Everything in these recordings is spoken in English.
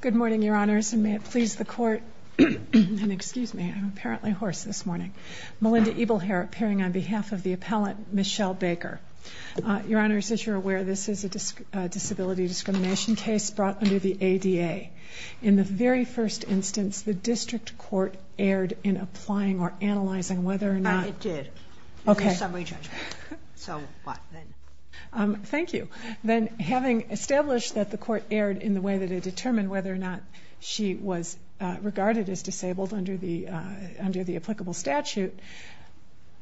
Good morning, Your Honors, and may it please the Court, and excuse me, I'm apparently hoarse this morning. Melinda Ebelherr, appearing on behalf of the appellant, Michele Baker. Your Honors, as you're aware, this is a disability discrimination case brought under the ADA. In the very first instance, the District Court erred in applying or analyzing whether or not... No, it did. Okay. It was a summary judgment. So, what, then? Thank you. Then, having established that the Court erred in the way that it determined whether or not she was regarded as disabled under the applicable statute,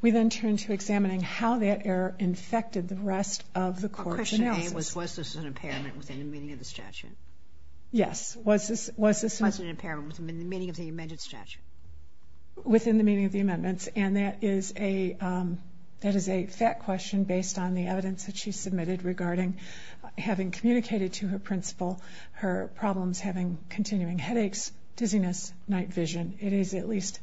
we then turned to examining how that error infected the rest of the Court's analysis. Question A was, was this an impairment within the meaning of the statute? Yes, was this... Was it an impairment within the meaning of the amended statute? Within the meaning of the amendments, and that is a, that is a fact question based on the evidence that she submitted regarding having communicated to her principal her problems, having continuing headaches, dizziness, night vision. It is at least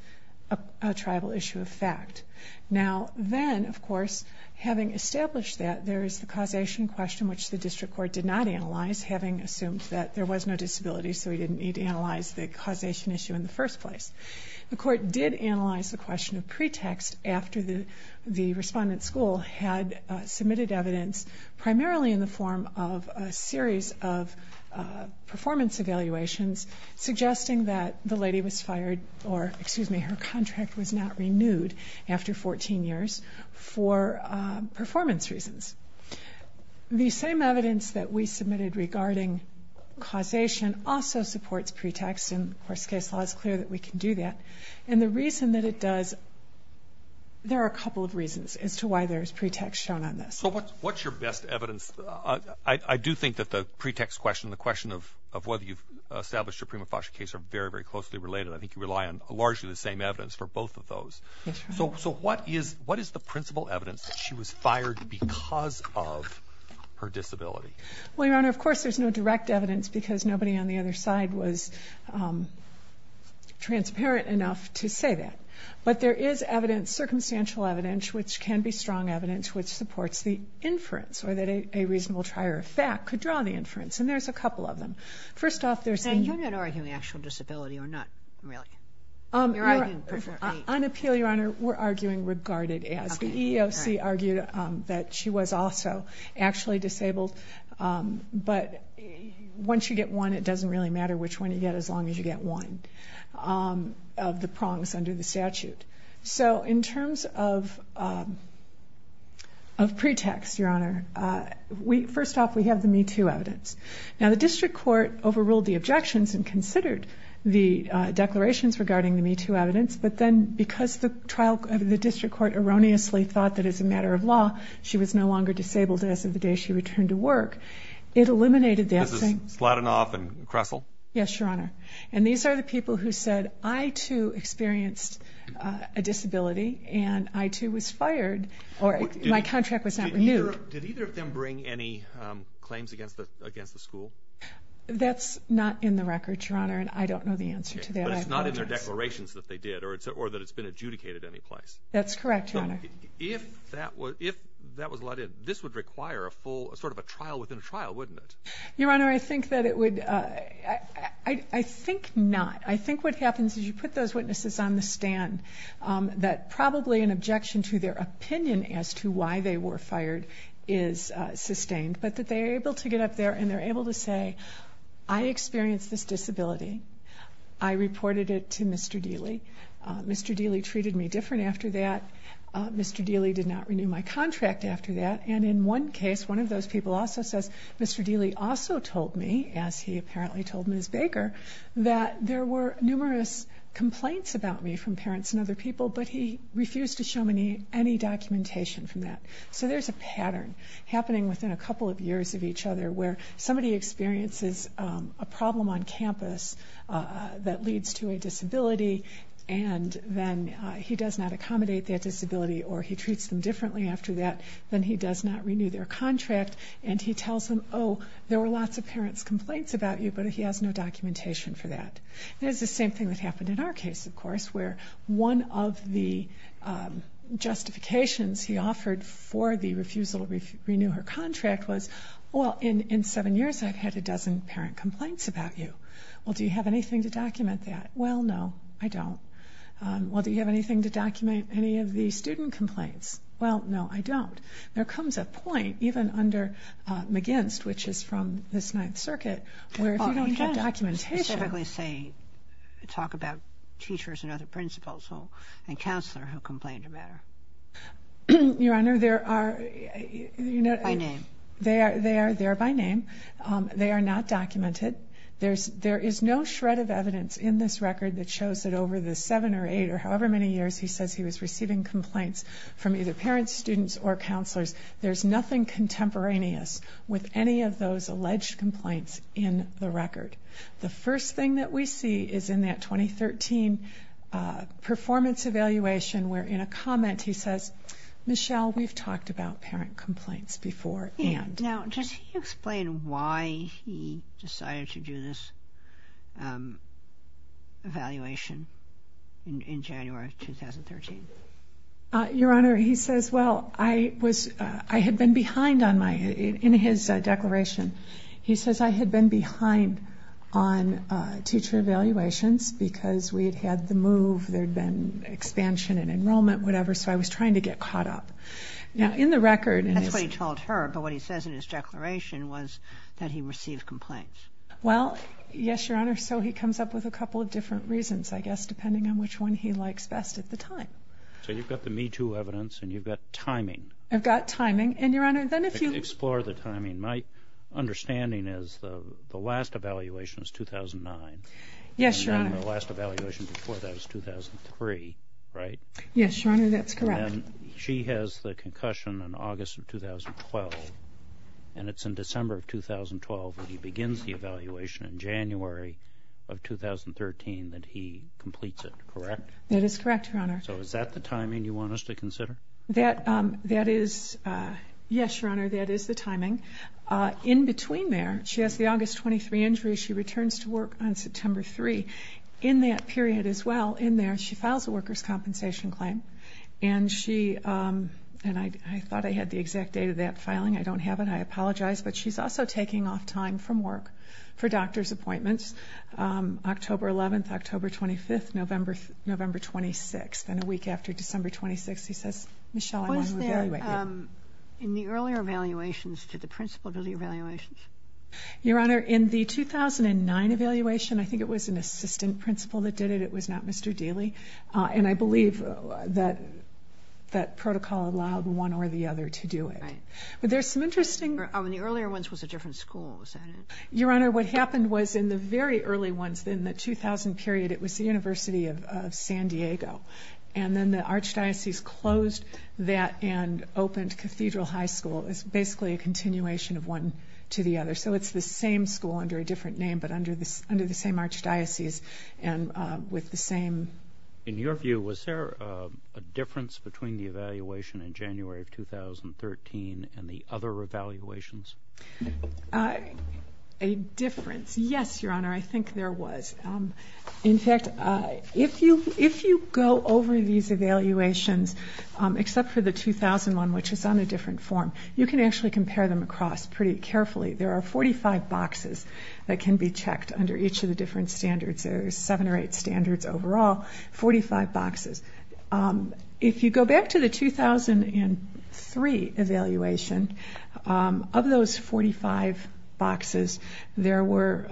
a tribal issue of fact. Now, then, of course, having established that, there is the causation question, which the District Court did not analyze, having assumed that there was no disability, so we didn't need to analyze the causation issue in the first place. The Court did analyze the question of pretext after the, the respondent school had submitted evidence, primarily in the form of a series of performance evaluations, suggesting that the lady was fired, or, excuse me, her contract was not renewed after 14 years for performance reasons. The same evidence that we submitted regarding causation also supports pretext, and, of course, case law is clear that we can do that, and the reason that it does, there are a couple of reasons as to why there is pretext shown on this. So what's, what's your best evidence? I, I do think that the pretext question, the question of, of whether you've established a prima facie case are very, very closely related. I think you rely on largely the same evidence for both of those. That's right. So, so what is, what is the principal evidence that she was fired because of her disability? Well, Your Honor, of course there's no direct evidence because nobody on the other side was transparent enough to say that. But there is evidence, circumstantial evidence, which can be strong evidence, which supports the inference, or that a, a reasonable trier of fact could draw the inference, and there's a couple of them. First off, there's the... Now, you're not arguing actual disability, or not really? You're arguing... On appeal, Your Honor, we're arguing regarded as. The EEOC argued that she was also actually disabled, but once you get one, it doesn't really matter which one you get, as long as you get one of the prongs under the statute. So in terms of, of pretext, Your Honor, we, first off, we have the Me Too evidence. Now the district court overruled the objections and considered the declarations regarding the Me Too evidence, but then because the trial, the district court erroneously thought that as a matter of law, she was no longer disabled as of the day she returned to work, it eliminated the... This is Slotinoff and Kressel? Yes, Your Honor. And these are the people who said, I, too, experienced a disability, and I, too, was fired, or my contract was not renewed. Did either of them bring any claims against the school? That's not in the record, Your Honor, and I don't know the answer to that. But it's not in their declarations that they did, or that it's been adjudicated any place? That's correct, Your Honor. If that was let in, this would require a full, sort of a trial within a trial, wouldn't it? Your Honor, I think that it would... I think not. I think what happens is you put those witnesses on the stand, that probably an objection to their opinion as to why they were fired is sustained, but that they are able to get up there, and they're able to say, I experienced this disability. I reported it to Mr. Dealey. Mr. Dealey treated me different after that. Mr. Dealey did not renew my contract after that. And in one case, one of those people also says, Mr. Dealey also told me, as he apparently told Ms. Baker, that there were numerous complaints about me from parents and other people, but he refused to show me any documentation from that. So there's a pattern happening within a couple of years of each other, where somebody experiences a problem on campus that leads to a disability, and then he does not accommodate that disability, or he treats them differently after that, then he does not renew their contract, and he tells them, oh, there were lots of parents' complaints about you, but he has no documentation for that. It is the same thing that happened in our case, of course, where one of the justifications he offered for the refusal to renew her contract was, well, in seven years, I've had a dozen parent complaints about you. Well, do you have anything to document that? Well, no, I don't. Well, do you have anything to document any of the student complaints? Well, no, I don't. There comes a point, even under McGinst, which is from the Ninth Circuit, where if I talk about teachers and other principals and counselors who complained about her. Your Honor, there are... By name. They are by name. They are not documented. There is no shred of evidence in this record that shows that over the seven or eight or however many years he says he was receiving complaints from either parents, students, or counselors, there's nothing contemporaneous with any of those alleged complaints in the record. The first thing that we see is in that 2013 performance evaluation, where in a comment he says, Michelle, we've talked about parent complaints before and... Now, just explain why he decided to do this evaluation in January of 2013. Your Honor, he says, well, I was... I had been behind on my... In his declaration, he says, I had been behind on teacher evaluations because we had had the move, there had been expansion in enrollment, whatever, so I was trying to get caught up. Now, in the record... That's what he told her, but what he says in his declaration was that he received complaints. Well, yes, Your Honor, so he comes up with a couple of different reasons, I guess, depending on which one he likes best at the time. So you've got the Me Too evidence, and you've got timing. I've got timing, and Your Honor, then if you... Explore the timing. My understanding is the last evaluation is 2009. Yes, Your Honor. And the last evaluation before that is 2003, right? Yes, Your Honor, that's correct. And then she has the concussion in August of 2012, and it's in December of 2012 when he begins the evaluation, in January of 2013 that he completes it, correct? That is correct, Your Honor. So is that the timing you want us to consider? That is... Yes, Your Honor, that is the timing. In between there, she has the August 23 injury, she returns to work on September 3. In that period as well, in there, she files a worker's compensation claim, and she... And I thought I had the exact date of that filing, I don't have it, I apologize, but she's also taking off time from work for doctor's appointments, October 11th, October 25th, November 26th. And a week after December 26th, he says, Michele, I want to evaluate you. Was there, in the earlier evaluations, did the principal do the evaluations? Your Honor, in the 2009 evaluation, I think it was an assistant principal that did it, it was not Mr. Daley, and I believe that protocol allowed one or the other to do it. Right. But there's some interesting... The earlier ones was a different school, was that it? Your Honor, what happened was in the very early ones, in the 2000 period, it was the University of San Diego. And then the archdiocese closed that and opened Cathedral High School as basically a continuation of one to the other. So it's the same school under a different name but under the same archdiocese and with the same... In your view, was there a difference between the evaluation in January of 2013 and the other evaluations? A difference? Yes, Your Honor, I think there was. In fact, if you go over these evaluations, except for the 2001, which is on a different form, you can actually compare them across pretty carefully. There are 45 boxes that can be checked under each of the different standards. There's seven standards overall, 45 boxes. If you go back to the 2003 evaluation, of those 45 boxes, there were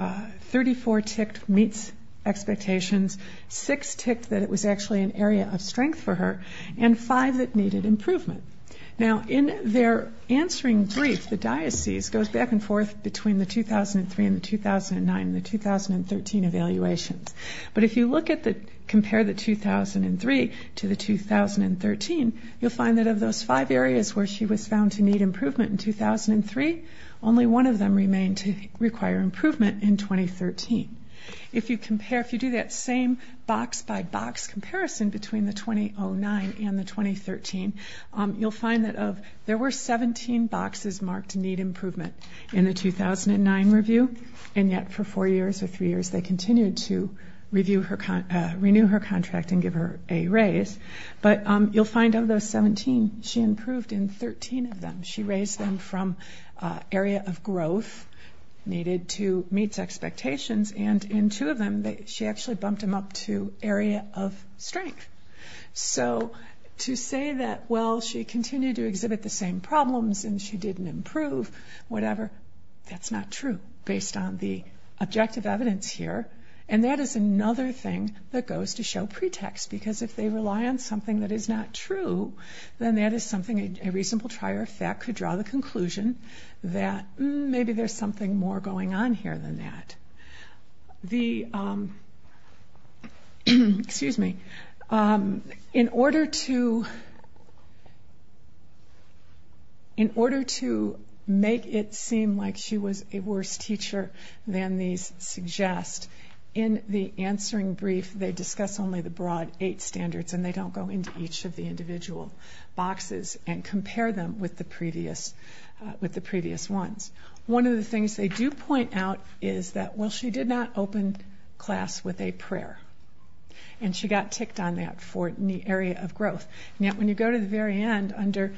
34 ticked meets expectations, six ticked that it was actually an area of strength for her, and five that needed improvement. Now, in their answering brief, the diocese goes back and forth between the 2003 and the 2009 and the 2013 evaluations. But if you compare the 2003 to the 2013, you'll find that of those five areas where she was found to need improvement in 2003, only one of them remained to require improvement in 2013. If you compare, if you do that same box-by-box comparison between the 2009 and the 2013, you'll find that of, there were 17 boxes marked need improvement in the 2009 review, and yet for four years or three years, they continued to renew her contract and give her a raise. But you'll find of those 17, she improved in 13 of them. She raised them from area of growth needed to meets expectations, and in two of them, she actually bumped them up to an area of strength. So, to say that, well, she continued to exhibit the same problems and she didn't improve, whatever, that's not true, based on the objective evidence here. And that is another thing that goes to show pretext, because if they rely on something that is not true, then that is something a reasonable trier of fact could draw the conclusion that maybe there's something more going on here than that. The, excuse me, in order to, in order to make it seem like she was a worse teacher than these suggest, in the answering brief, they discuss only the broad eight standards and they don't go into each of the individual boxes and compare them with the previous, with the previous ones. One of the things they do point out is that, well, she did not open class with a prayer, and she got ticked on that for an area of growth. And yet, when you go to the very end, under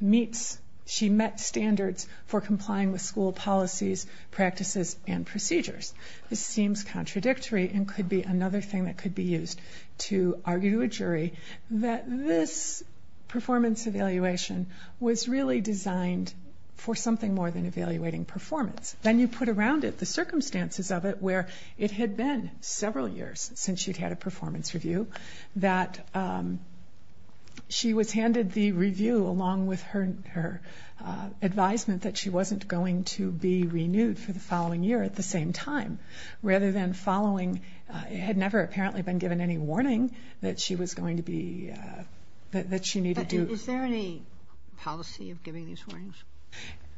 meets, she met standards for complying with school policies, practices, and procedures. This seems contradictory and could be another thing that could be used to argue to a jury that this performance evaluation was really designed for something more than evaluating performance. Then you put around it the circumstances of it where it had been several years since she'd had a performance review, that she was handed the review along with her advisement that she wasn't going to be renewed for the following year at the she was going to be, that she needed to... But is there any policy of giving these warnings?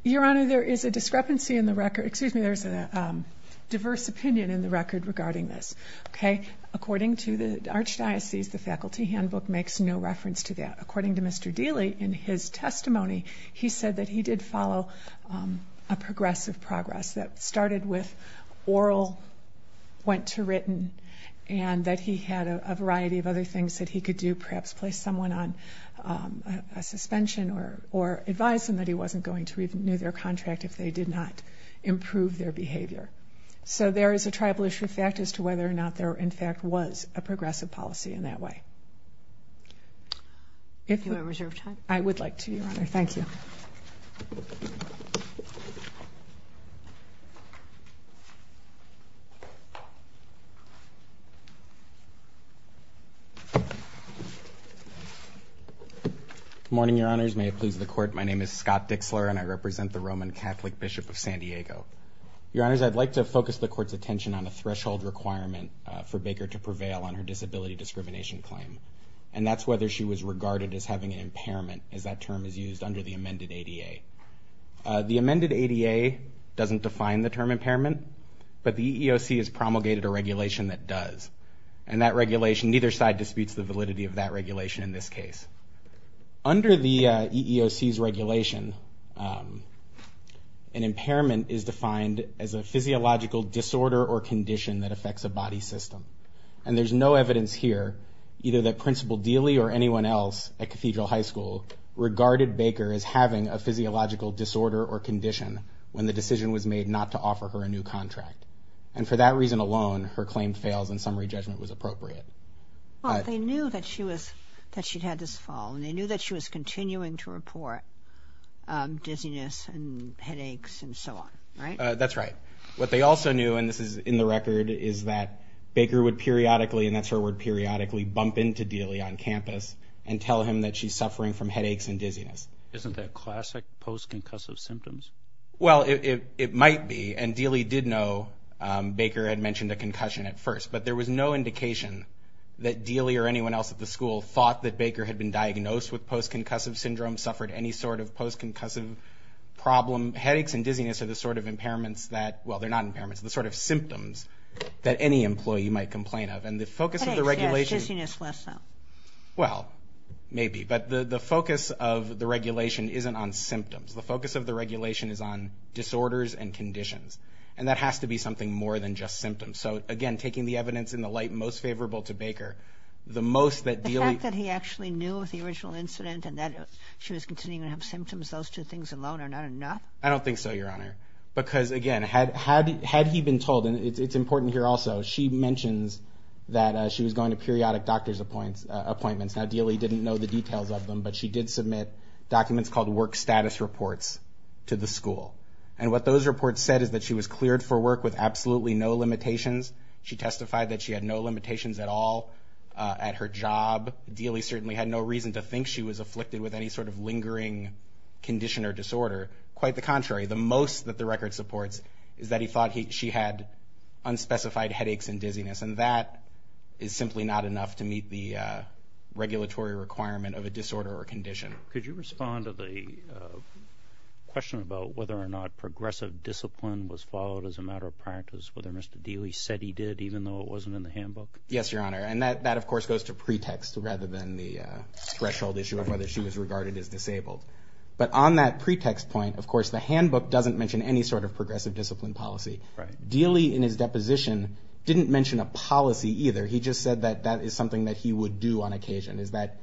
Your Honor, there is a discrepancy in the record, excuse me, there's a diverse opinion in the record regarding this, okay? According to the Archdiocese, the faculty handbook makes no reference to that. According to Mr. Dealy, in his testimony, he said that he did follow a progressive progress that started with oral, went to written, and that he had a variety of other things that he could do, perhaps place someone on a suspension or advise them that he wasn't going to renew their contract if they did not improve their behavior. So there is a tribal issue fact as to whether or not there, in fact, was a progressive policy in that way. Do you have reserve time? I would like to, Your Honor. Thank you. Good morning, Your Honors. May it please the Court, my name is Scott Dixler and I represent the Roman Catholic Bishop of San Diego. Your Honors, I'd like to focus the Court's attention on a threshold requirement for Baker to prevail on her disability discrimination claim, and that's whether she was regarded as having an impairment, as that term is used under the amended ADA. The amended ADA doesn't define the term impairment, but the EEOC has promulgated a regulation that does, and that regulation, neither side disputes the validity of that regulation in this case. Under the EEOC's regulation, an impairment is defined as a physiological disorder or condition that affects a body system, and there's no evidence here, either that Principal Baker is having a physiological disorder or condition when the decision was made not to offer her a new contract. And for that reason alone, her claim fails and summary judgment was appropriate. Well, they knew that she was, that she'd had this fall, and they knew that she was continuing to report dizziness and headaches and so on, right? That's right. What they also knew, and this is in the record, is that Baker would periodically, and that's her word periodically, bump into Dealey on campus and tell him that she's suffering from headaches and dizziness. Isn't that classic post-concussive symptoms? Well, it might be, and Dealey did know Baker had mentioned a concussion at first, but there was no indication that Dealey or anyone else at the school thought that Baker had been diagnosed with post-concussive syndrome, suffered any sort of post-concussive problem. Headaches and dizziness are the sort of impairments that, well, they're not impairments, the sort of symptoms that any employee might complain of, and the focus of the regulation... Headaches, yes. Dizziness, less so. Well, maybe, but the focus of the regulation isn't on symptoms. The focus of the regulation is on disorders and conditions, and that has to be something more than just symptoms. So, again, taking the evidence in the light most favorable to Baker, the most that Dealey... The fact that he actually knew of the original incident and that she was continuing to have symptoms, those two things alone are not enough? I don't think so, Your Honor, because, again, had he been told, and it's important here also, she mentions that she was going to periodic doctor's appointments. Now, Dealey didn't know the details of them, but she did submit documents called work status reports to the school, and what those reports said is that she was cleared for work with absolutely no limitations. She testified that she had no limitations at all at her job. Dealey certainly had no reason to think she was afflicted with any sort of lingering condition or disorder. Quite the contrary. The most that the record supports is that he thought she had unspecified headaches and dizziness, and that is simply not enough to meet the regulatory requirement of a disorder or condition. Could you respond to the question about whether or not progressive discipline was followed as a matter of practice, whether Mr. Dealey said he did even though it wasn't in the handbook? Yes, Your Honor, and that, of course, goes to pretext rather than the threshold issue of whether she was regarded as disabled, but on that pretext point, of course, the handbook doesn't mention any sort of progressive discipline policy. Dealey, in his deposition, didn't mention a policy either. He just said that that is something that he would do on occasion, is that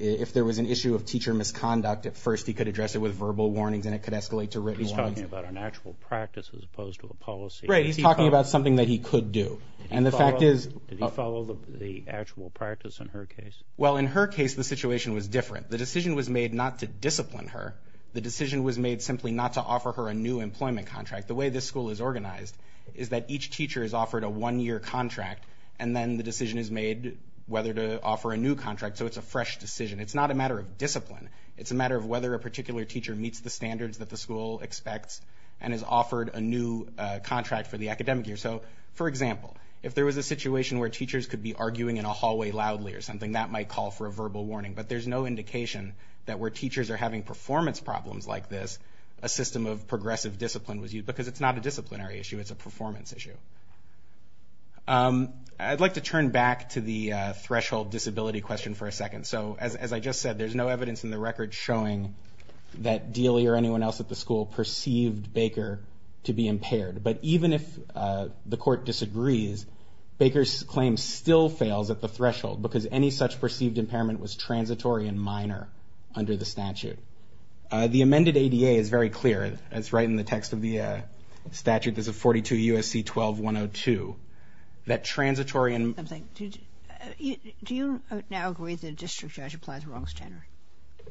if there was an issue of teacher misconduct, at first, he could address it with verbal warnings and it could escalate to written warnings. He's talking about an actual practice as opposed to a policy. Right, he's talking about something that he could do, and the fact is- Did he follow the actual practice in her case? Well, in her case, the situation was different. The decision was made not to discipline her. The decision was made simply not to offer her a new employment contract. The way this school is organized is that each teacher is offered a one-year contract, and then the decision is made whether to offer a new contract, so it's a fresh decision. It's not a matter of discipline. It's a matter of whether a particular teacher meets the standards that the school expects and is offered a new contract for the academic year. So, for example, if there was a situation where teachers could be arguing in a hallway loudly or something, that might call for a verbal warning, but there's no indication that where teachers are having performance problems like this, a system of progressive discipline was used, because it's not a disciplinary issue. It's a performance issue. I'd like to turn back to the threshold disability question for a second. So, as I just said, there's no evidence in the record showing that Dealey or anyone else at the school perceived Baker to be impaired, but even if the court disagrees, Baker's claim still fails at the threshold, because any such perceived impairment was transitory and minor under the statute. The amended ADA is very clear. It's right in the text of the statute. There's a 42 U.S.C. 12-102, that transitory and minor... I'm sorry. Do you now agree that a district judge applies the wrong standard?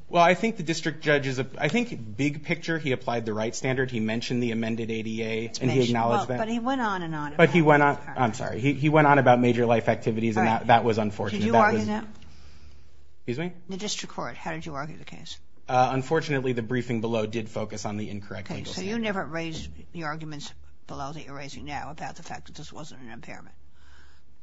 Well, I think the district judge is a... I think big picture, he applied the right standard. He mentioned the amended ADA, and he acknowledged that. But he went on and on about... But he went on... I'm sorry. He went on about major life activities, and that was unfortunate. Did you argue that? Excuse me? The district court, how did you argue the case? Unfortunately, the briefing below did focus on the incorrect legal standard. Okay, so you never raised the arguments below that you're raising now about the fact that this wasn't an impairment,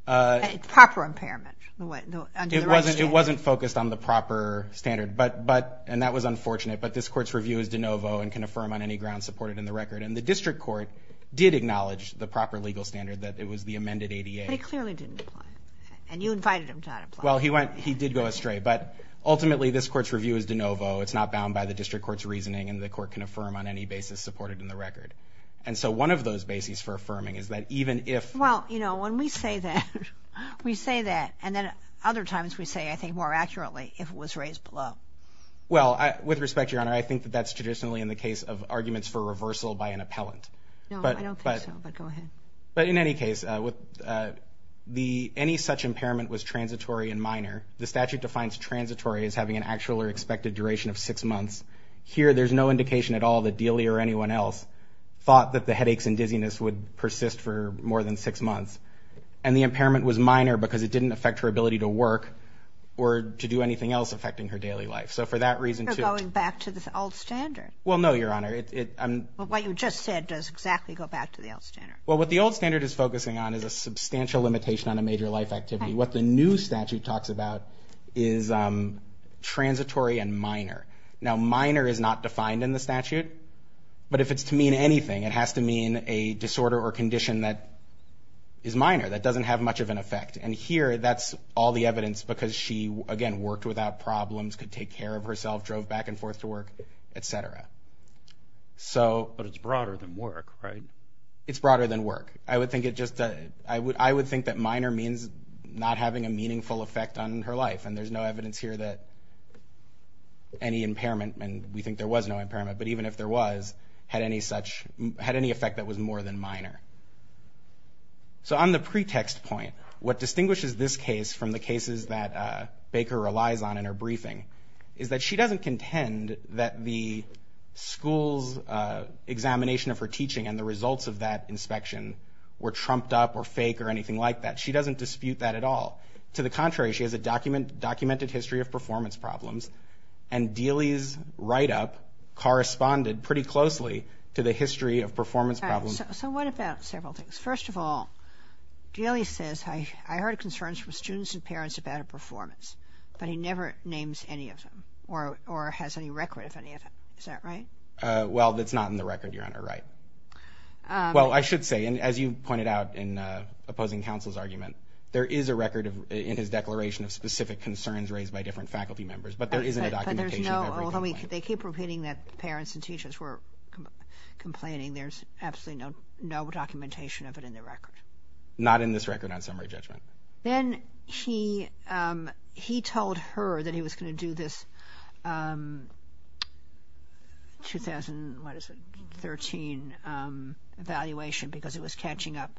a proper impairment under the right standard? It wasn't focused on the proper standard, and that was unfortunate. But this court's review is de novo and can affirm on any grounds supported in the record. And the district court did acknowledge the proper legal standard, that it was the amended ADA. But he clearly didn't apply it. And you invited him to not apply it. Well, he went... He did go astray. But ultimately, this court's review is de novo. It's not bound by the district court's reasoning, and the court can affirm on any basis supported in the record. And so one of those bases for affirming is that even if... Well, you know, when we say that, we say that. And then other times we say, I think, more accurately, if it was raised below. Well, with respect, Your Honor, I think that that's traditionally in the case of arguments for reversal by an appellant. No, I don't think so. But go ahead. But in any case, any such impairment was transitory and minor. The statute defines transitory as having an actual or expected duration of six months. Here, there's no indication at all that Dealey or anyone else thought that the headaches and dizziness would persist for more than six months. And the impairment was minor because it didn't affect her ability to work or to do anything else affecting her daily life. So for that reason, too... You're going back to the old standard. Well, no, Your Honor. But what you just said does exactly go back to the old standard. Well, what the old standard is focusing on is a substantial limitation on a major life activity. What the new statute talks about is transitory and minor. Now, minor is not defined in the statute. But if it's to mean anything, it has to mean a disorder or condition that is minor, that doesn't have much of an effect. And here, that's all the evidence because she, again, worked without problems, could take care of herself, drove back and forth to work, et cetera. But it's broader than work, right? It's broader than work. I would think that minor means not having a meaningful effect on her life. And there's no evidence here that any impairment, and we think there was no impairment, but even if there was, had any effect that was more than minor. So on the pretext point, what distinguishes this case from the cases that Baker relies on in her briefing is that she doesn't contend that the school's examination of her teaching and the results of that inspection were trumped up or fake or anything like that. She doesn't dispute that at all. To the contrary, she has a documented history of performance problems and Dealey's write-up corresponded pretty closely to the history of performance problems. So what about several things? First of all, Dealey says, I heard concerns from students and parents about her performance, but he never names any of them or has any record of any of them. Is that right? Well, that's not in the record, Your Honor. Right. Well, I should say, and as you pointed out in opposing counsel's argument, there is a record in his declaration of specific concerns raised by different faculty members, but there isn't a documentation of every complaint. They keep repeating that parents and teachers were complaining. There's absolutely no documentation of it in the record. Not in this record on summary judgment. Then he told her that he was going to do this 2013 evaluation because it was catching up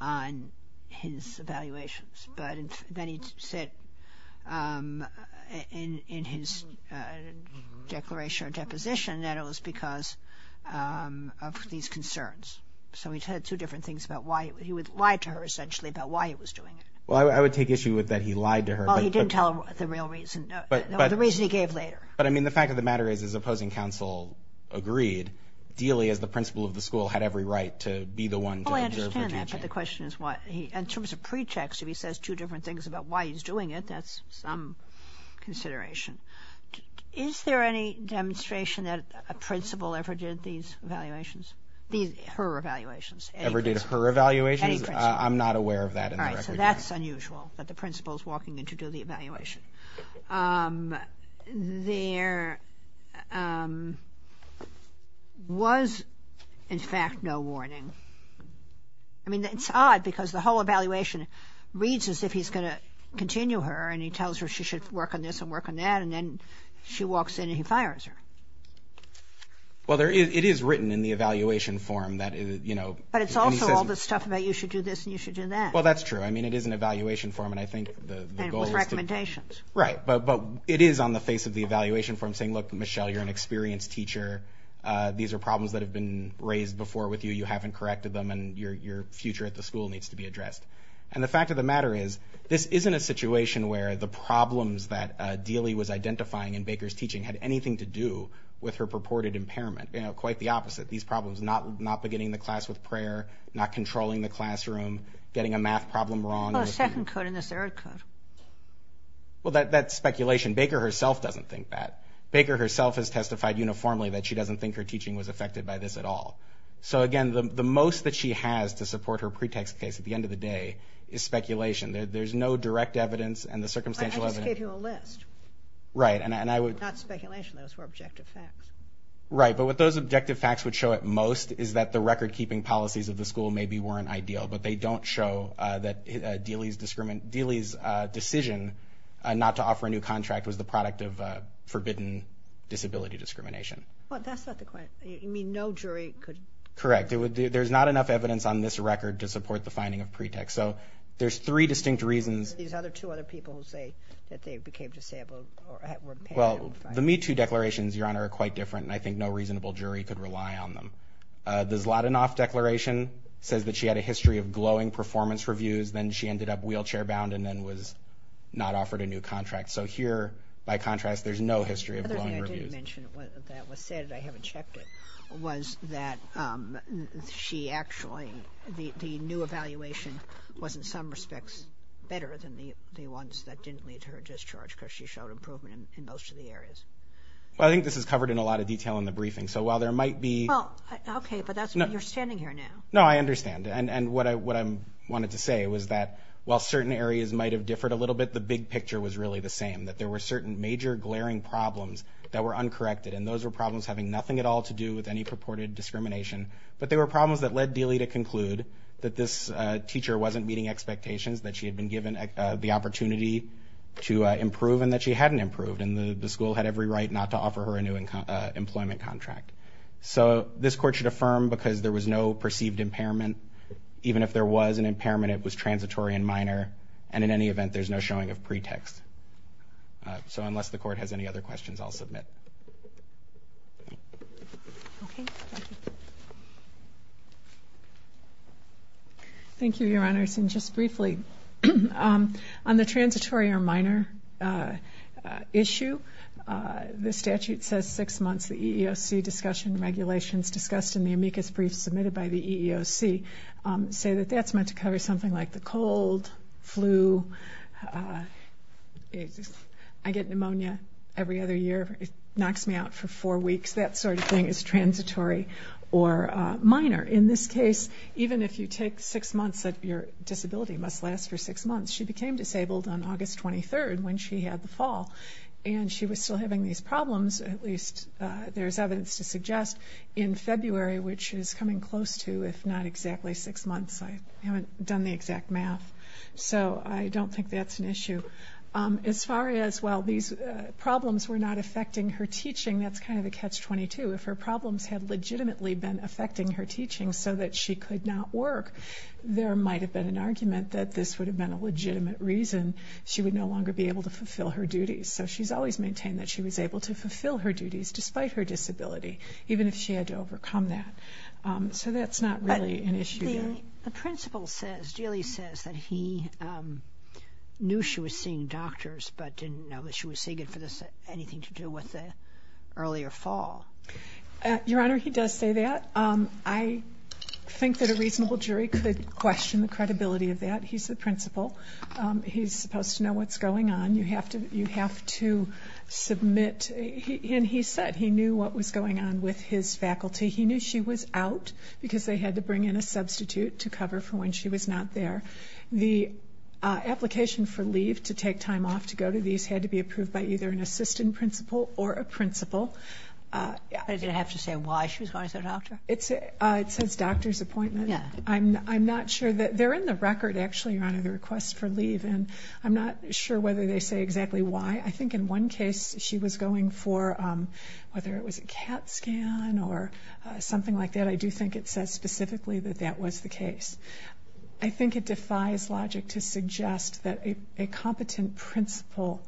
on his evaluations, but then he said in his declaration or deposition that it was because of these concerns. So he said two different things about why he would lie to her essentially about why he was doing it. Well, I would take issue with that he lied to her. Well, he didn't tell her the real reason, the reason he gave later. But I mean, the fact of the matter is his opposing counsel agreed, Dealey, as the principal of the school, had every right to be the one to observe her teaching. I understand that, but the question is why. In terms of pretext, if he says two different things about why he's doing it, that's some consideration. Is there any demonstration that a principal ever did these evaluations, her evaluations? Ever did her evaluations? I'm not aware of that in the record. All right, so that's unusual that the principal is walking in to do the evaluation. There was in fact no warning. I mean, it's odd because the whole evaluation reads as if he's going to continue her and he tells her she should work on this and work on that and then she walks in and he fires her. Well, it is written in the evaluation form that, you know... But it's also all this stuff about you should do this and you should do that. Well, that's true. I mean, it is an evaluation form and I think the goal is to... And with recommendations. Right, but it is on the face of the evaluation form saying, look, Michelle, you're an experienced teacher. These are problems that have been raised before with you. You haven't corrected them and your future at the school needs to be addressed. And the fact of the matter is this isn't a situation where the problems that Dealey was identifying in Baker's teaching had anything to do with her purported impairment. You know, quite the opposite. These problems not beginning the class with prayer, not controlling the classroom, getting a math problem wrong. Well, the second could and the third could. Well, that's speculation. Baker herself doesn't think that. Baker herself has testified uniformly that she doesn't think her teaching was affected by this at all. So again, the most that she has to support her pretext case at the end of the day is speculation. There's no direct evidence and the circumstantial evidence... I just gave you a list. Right, and I would... Not speculation. Those were objective facts. Right, but what those objective facts would show at most is that the record-keeping policies of the school maybe weren't ideal, but they don't show that Dealey's decision not to offer a new contract was the product of forbidden disability discrimination. Well, that's not the point. You mean no jury could... Correct. There's not enough evidence on this record to support the finding of pretext. So there's three distinct reasons... There's these other two other people who say that they became disabled or were impaired... Well, the Me Too declarations, Your Honor, are quite different, and I think no reasonable jury could rely on them. The Zlotinoff declaration says that she had a history of glowing performance reviews, then she ended up wheelchair-bound, and then was not offered a new contract. So here, by contrast, there's no history of glowing reviews. Other than I didn't mention that was said, I haven't checked it, was that she actually... The new evaluation was, in some respects, better than the ones that didn't lead to her discharge because she showed improvement in most of the areas. Well, I think this is covered in a lot of detail in the briefing, so while there might be... Well, okay, but you're standing here now. No, I understand, and what I wanted to say was that while certain areas might have differed a little bit, the big picture was really the same, that there were certain major glaring problems that were uncorrected, and those were problems having nothing at all to do with any purported discrimination, but they were problems that led Dealey to conclude that this teacher wasn't meeting expectations, that she had been given the opportunity to improve, and that she hadn't improved, and the school had every right not to offer her a new employment contract. So this court should affirm, because there was no perceived impairment, even if there was an impairment, it was transitory and minor, and in any event, there's no showing of pretext. So unless the court has any other questions, I'll submit. Okay, thank you. Thank you, Your Honors, and just briefly, on the transitory or minor issue, the statute says six months. The EEOC discussion regulations discussed in the amicus brief submitted by the EEOC say that that's meant to cover something like the cold, flu, I get pneumonia every other year, it knocks me out for four weeks, that sort of thing is transitory or minor. In this case, even if you take six months, your disability must last for six months. She became disabled on August 23rd, when she had the fall, and she was still having these problems, at least there's evidence to suggest, in February, which is coming close to, if not exactly, six months. I haven't done the exact math, so I don't think that's an issue. As far as, well, these problems were not affecting her teaching, that's kind of a catch-22. If her problems had legitimately been affecting her teaching so that she could not work, there might have been an argument that this would have been a legitimate reason she would no longer be able to fulfill her duties. So she's always maintained that she was able to fulfill her duties despite her disability, even if she had to overcome that. So that's not really an issue there. But the principal says, Julie says, that he knew she was seeing doctors, but didn't know that she was seeking for anything to do with the earlier fall. Your Honor, he does say that. I think that a reasonable jury could question the credibility of that. He's the principal. He's supposed to know what's going on. You have to submit, and he said he knew what was going on with his faculty. He knew she was out because they had to bring in a substitute to cover for when she was not there. The application for leave to take time off to go to these had to be approved by either an assistant principal or a principal. Does it have to say why she was going to the doctor? It says doctor's appointment. I'm not sure. They're in the record, actually, Your Honor, the request for leave. And I'm not sure whether they say exactly why. I think in one case she was going for whether it was a CAT scan or something like that. I do think it says specifically that that was the case. I think it defies logic to suggest that a competent principal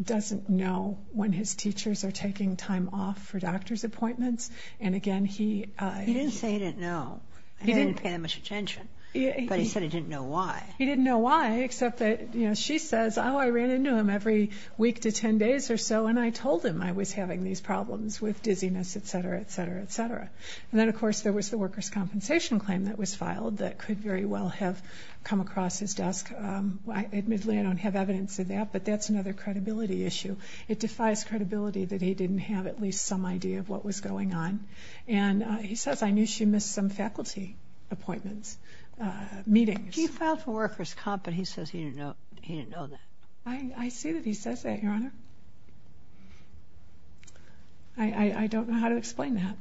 doesn't know when his teachers are taking time off for doctor's appointments. And, again, he – He didn't say he didn't know. He didn't pay that much attention. But he said he didn't know why. He didn't know why except that, you know, she says, oh, I ran into him every week to 10 days or so, and I told him I was having these problems with dizziness, et cetera, et cetera, et cetera. And then, of course, there was the worker's compensation claim that was filed that could very well have come across his desk. Admittedly, I don't have evidence of that, but that's another credibility issue. It defies credibility that he didn't have at least some idea of what was going on. And he says, I knew she missed some faculty appointments, meetings. He filed for worker's comp, but he says he didn't know that. I see that he says that, Your Honor. I don't know how to explain that.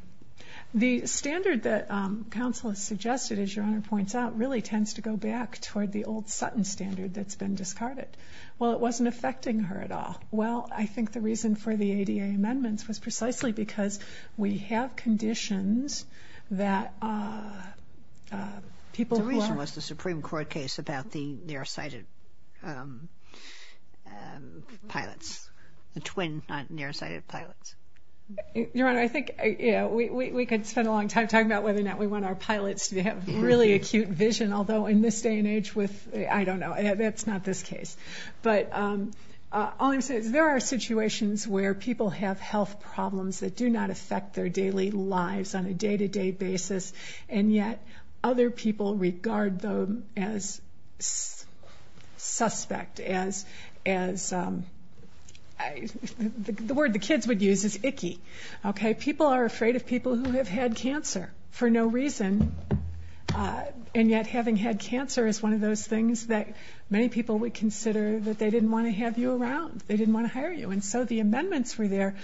The standard that counsel has suggested, as Your Honor points out, really tends to go back toward the old Sutton standard that's been discarded. Well, it wasn't affecting her at all. Well, I think the reason for the ADA amendments was precisely because we have conditions that people who are I think it was the Supreme Court case about the nearsighted pilots, the twin nearsighted pilots. Your Honor, I think we could spend a long time talking about whether or not we want our pilots to have really acute vision, although in this day and age with, I don't know, that's not this case. But all I'm saying is there are situations where people have health problems that do not affect their daily lives on a day-to-day basis, and yet other people regard them as suspect, as the word the kids would use is icky. People are afraid of people who have had cancer for no reason, and yet having had cancer is one of those things that many people would consider that they didn't want to have you around, they didn't want to hire you. And so the amendments were there,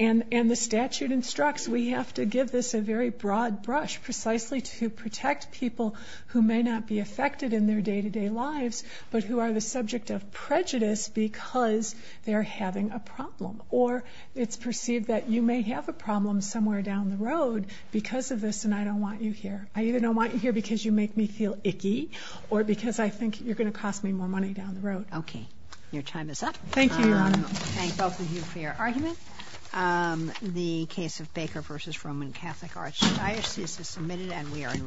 and the statute instructs we have to give this a very broad brush, precisely to protect people who may not be affected in their day-to-day lives, but who are the subject of prejudice because they're having a problem. Or it's perceived that you may have a problem somewhere down the road because of this, and I don't want you here. I either don't want you here because you make me feel icky, or because I think you're going to cost me more money down the road. Okay. Your time is up. Thank you. Thank both of you for your argument. The case of Baker v. Roman Catholic Archdiocese is submitted and we are in recess. Thank you.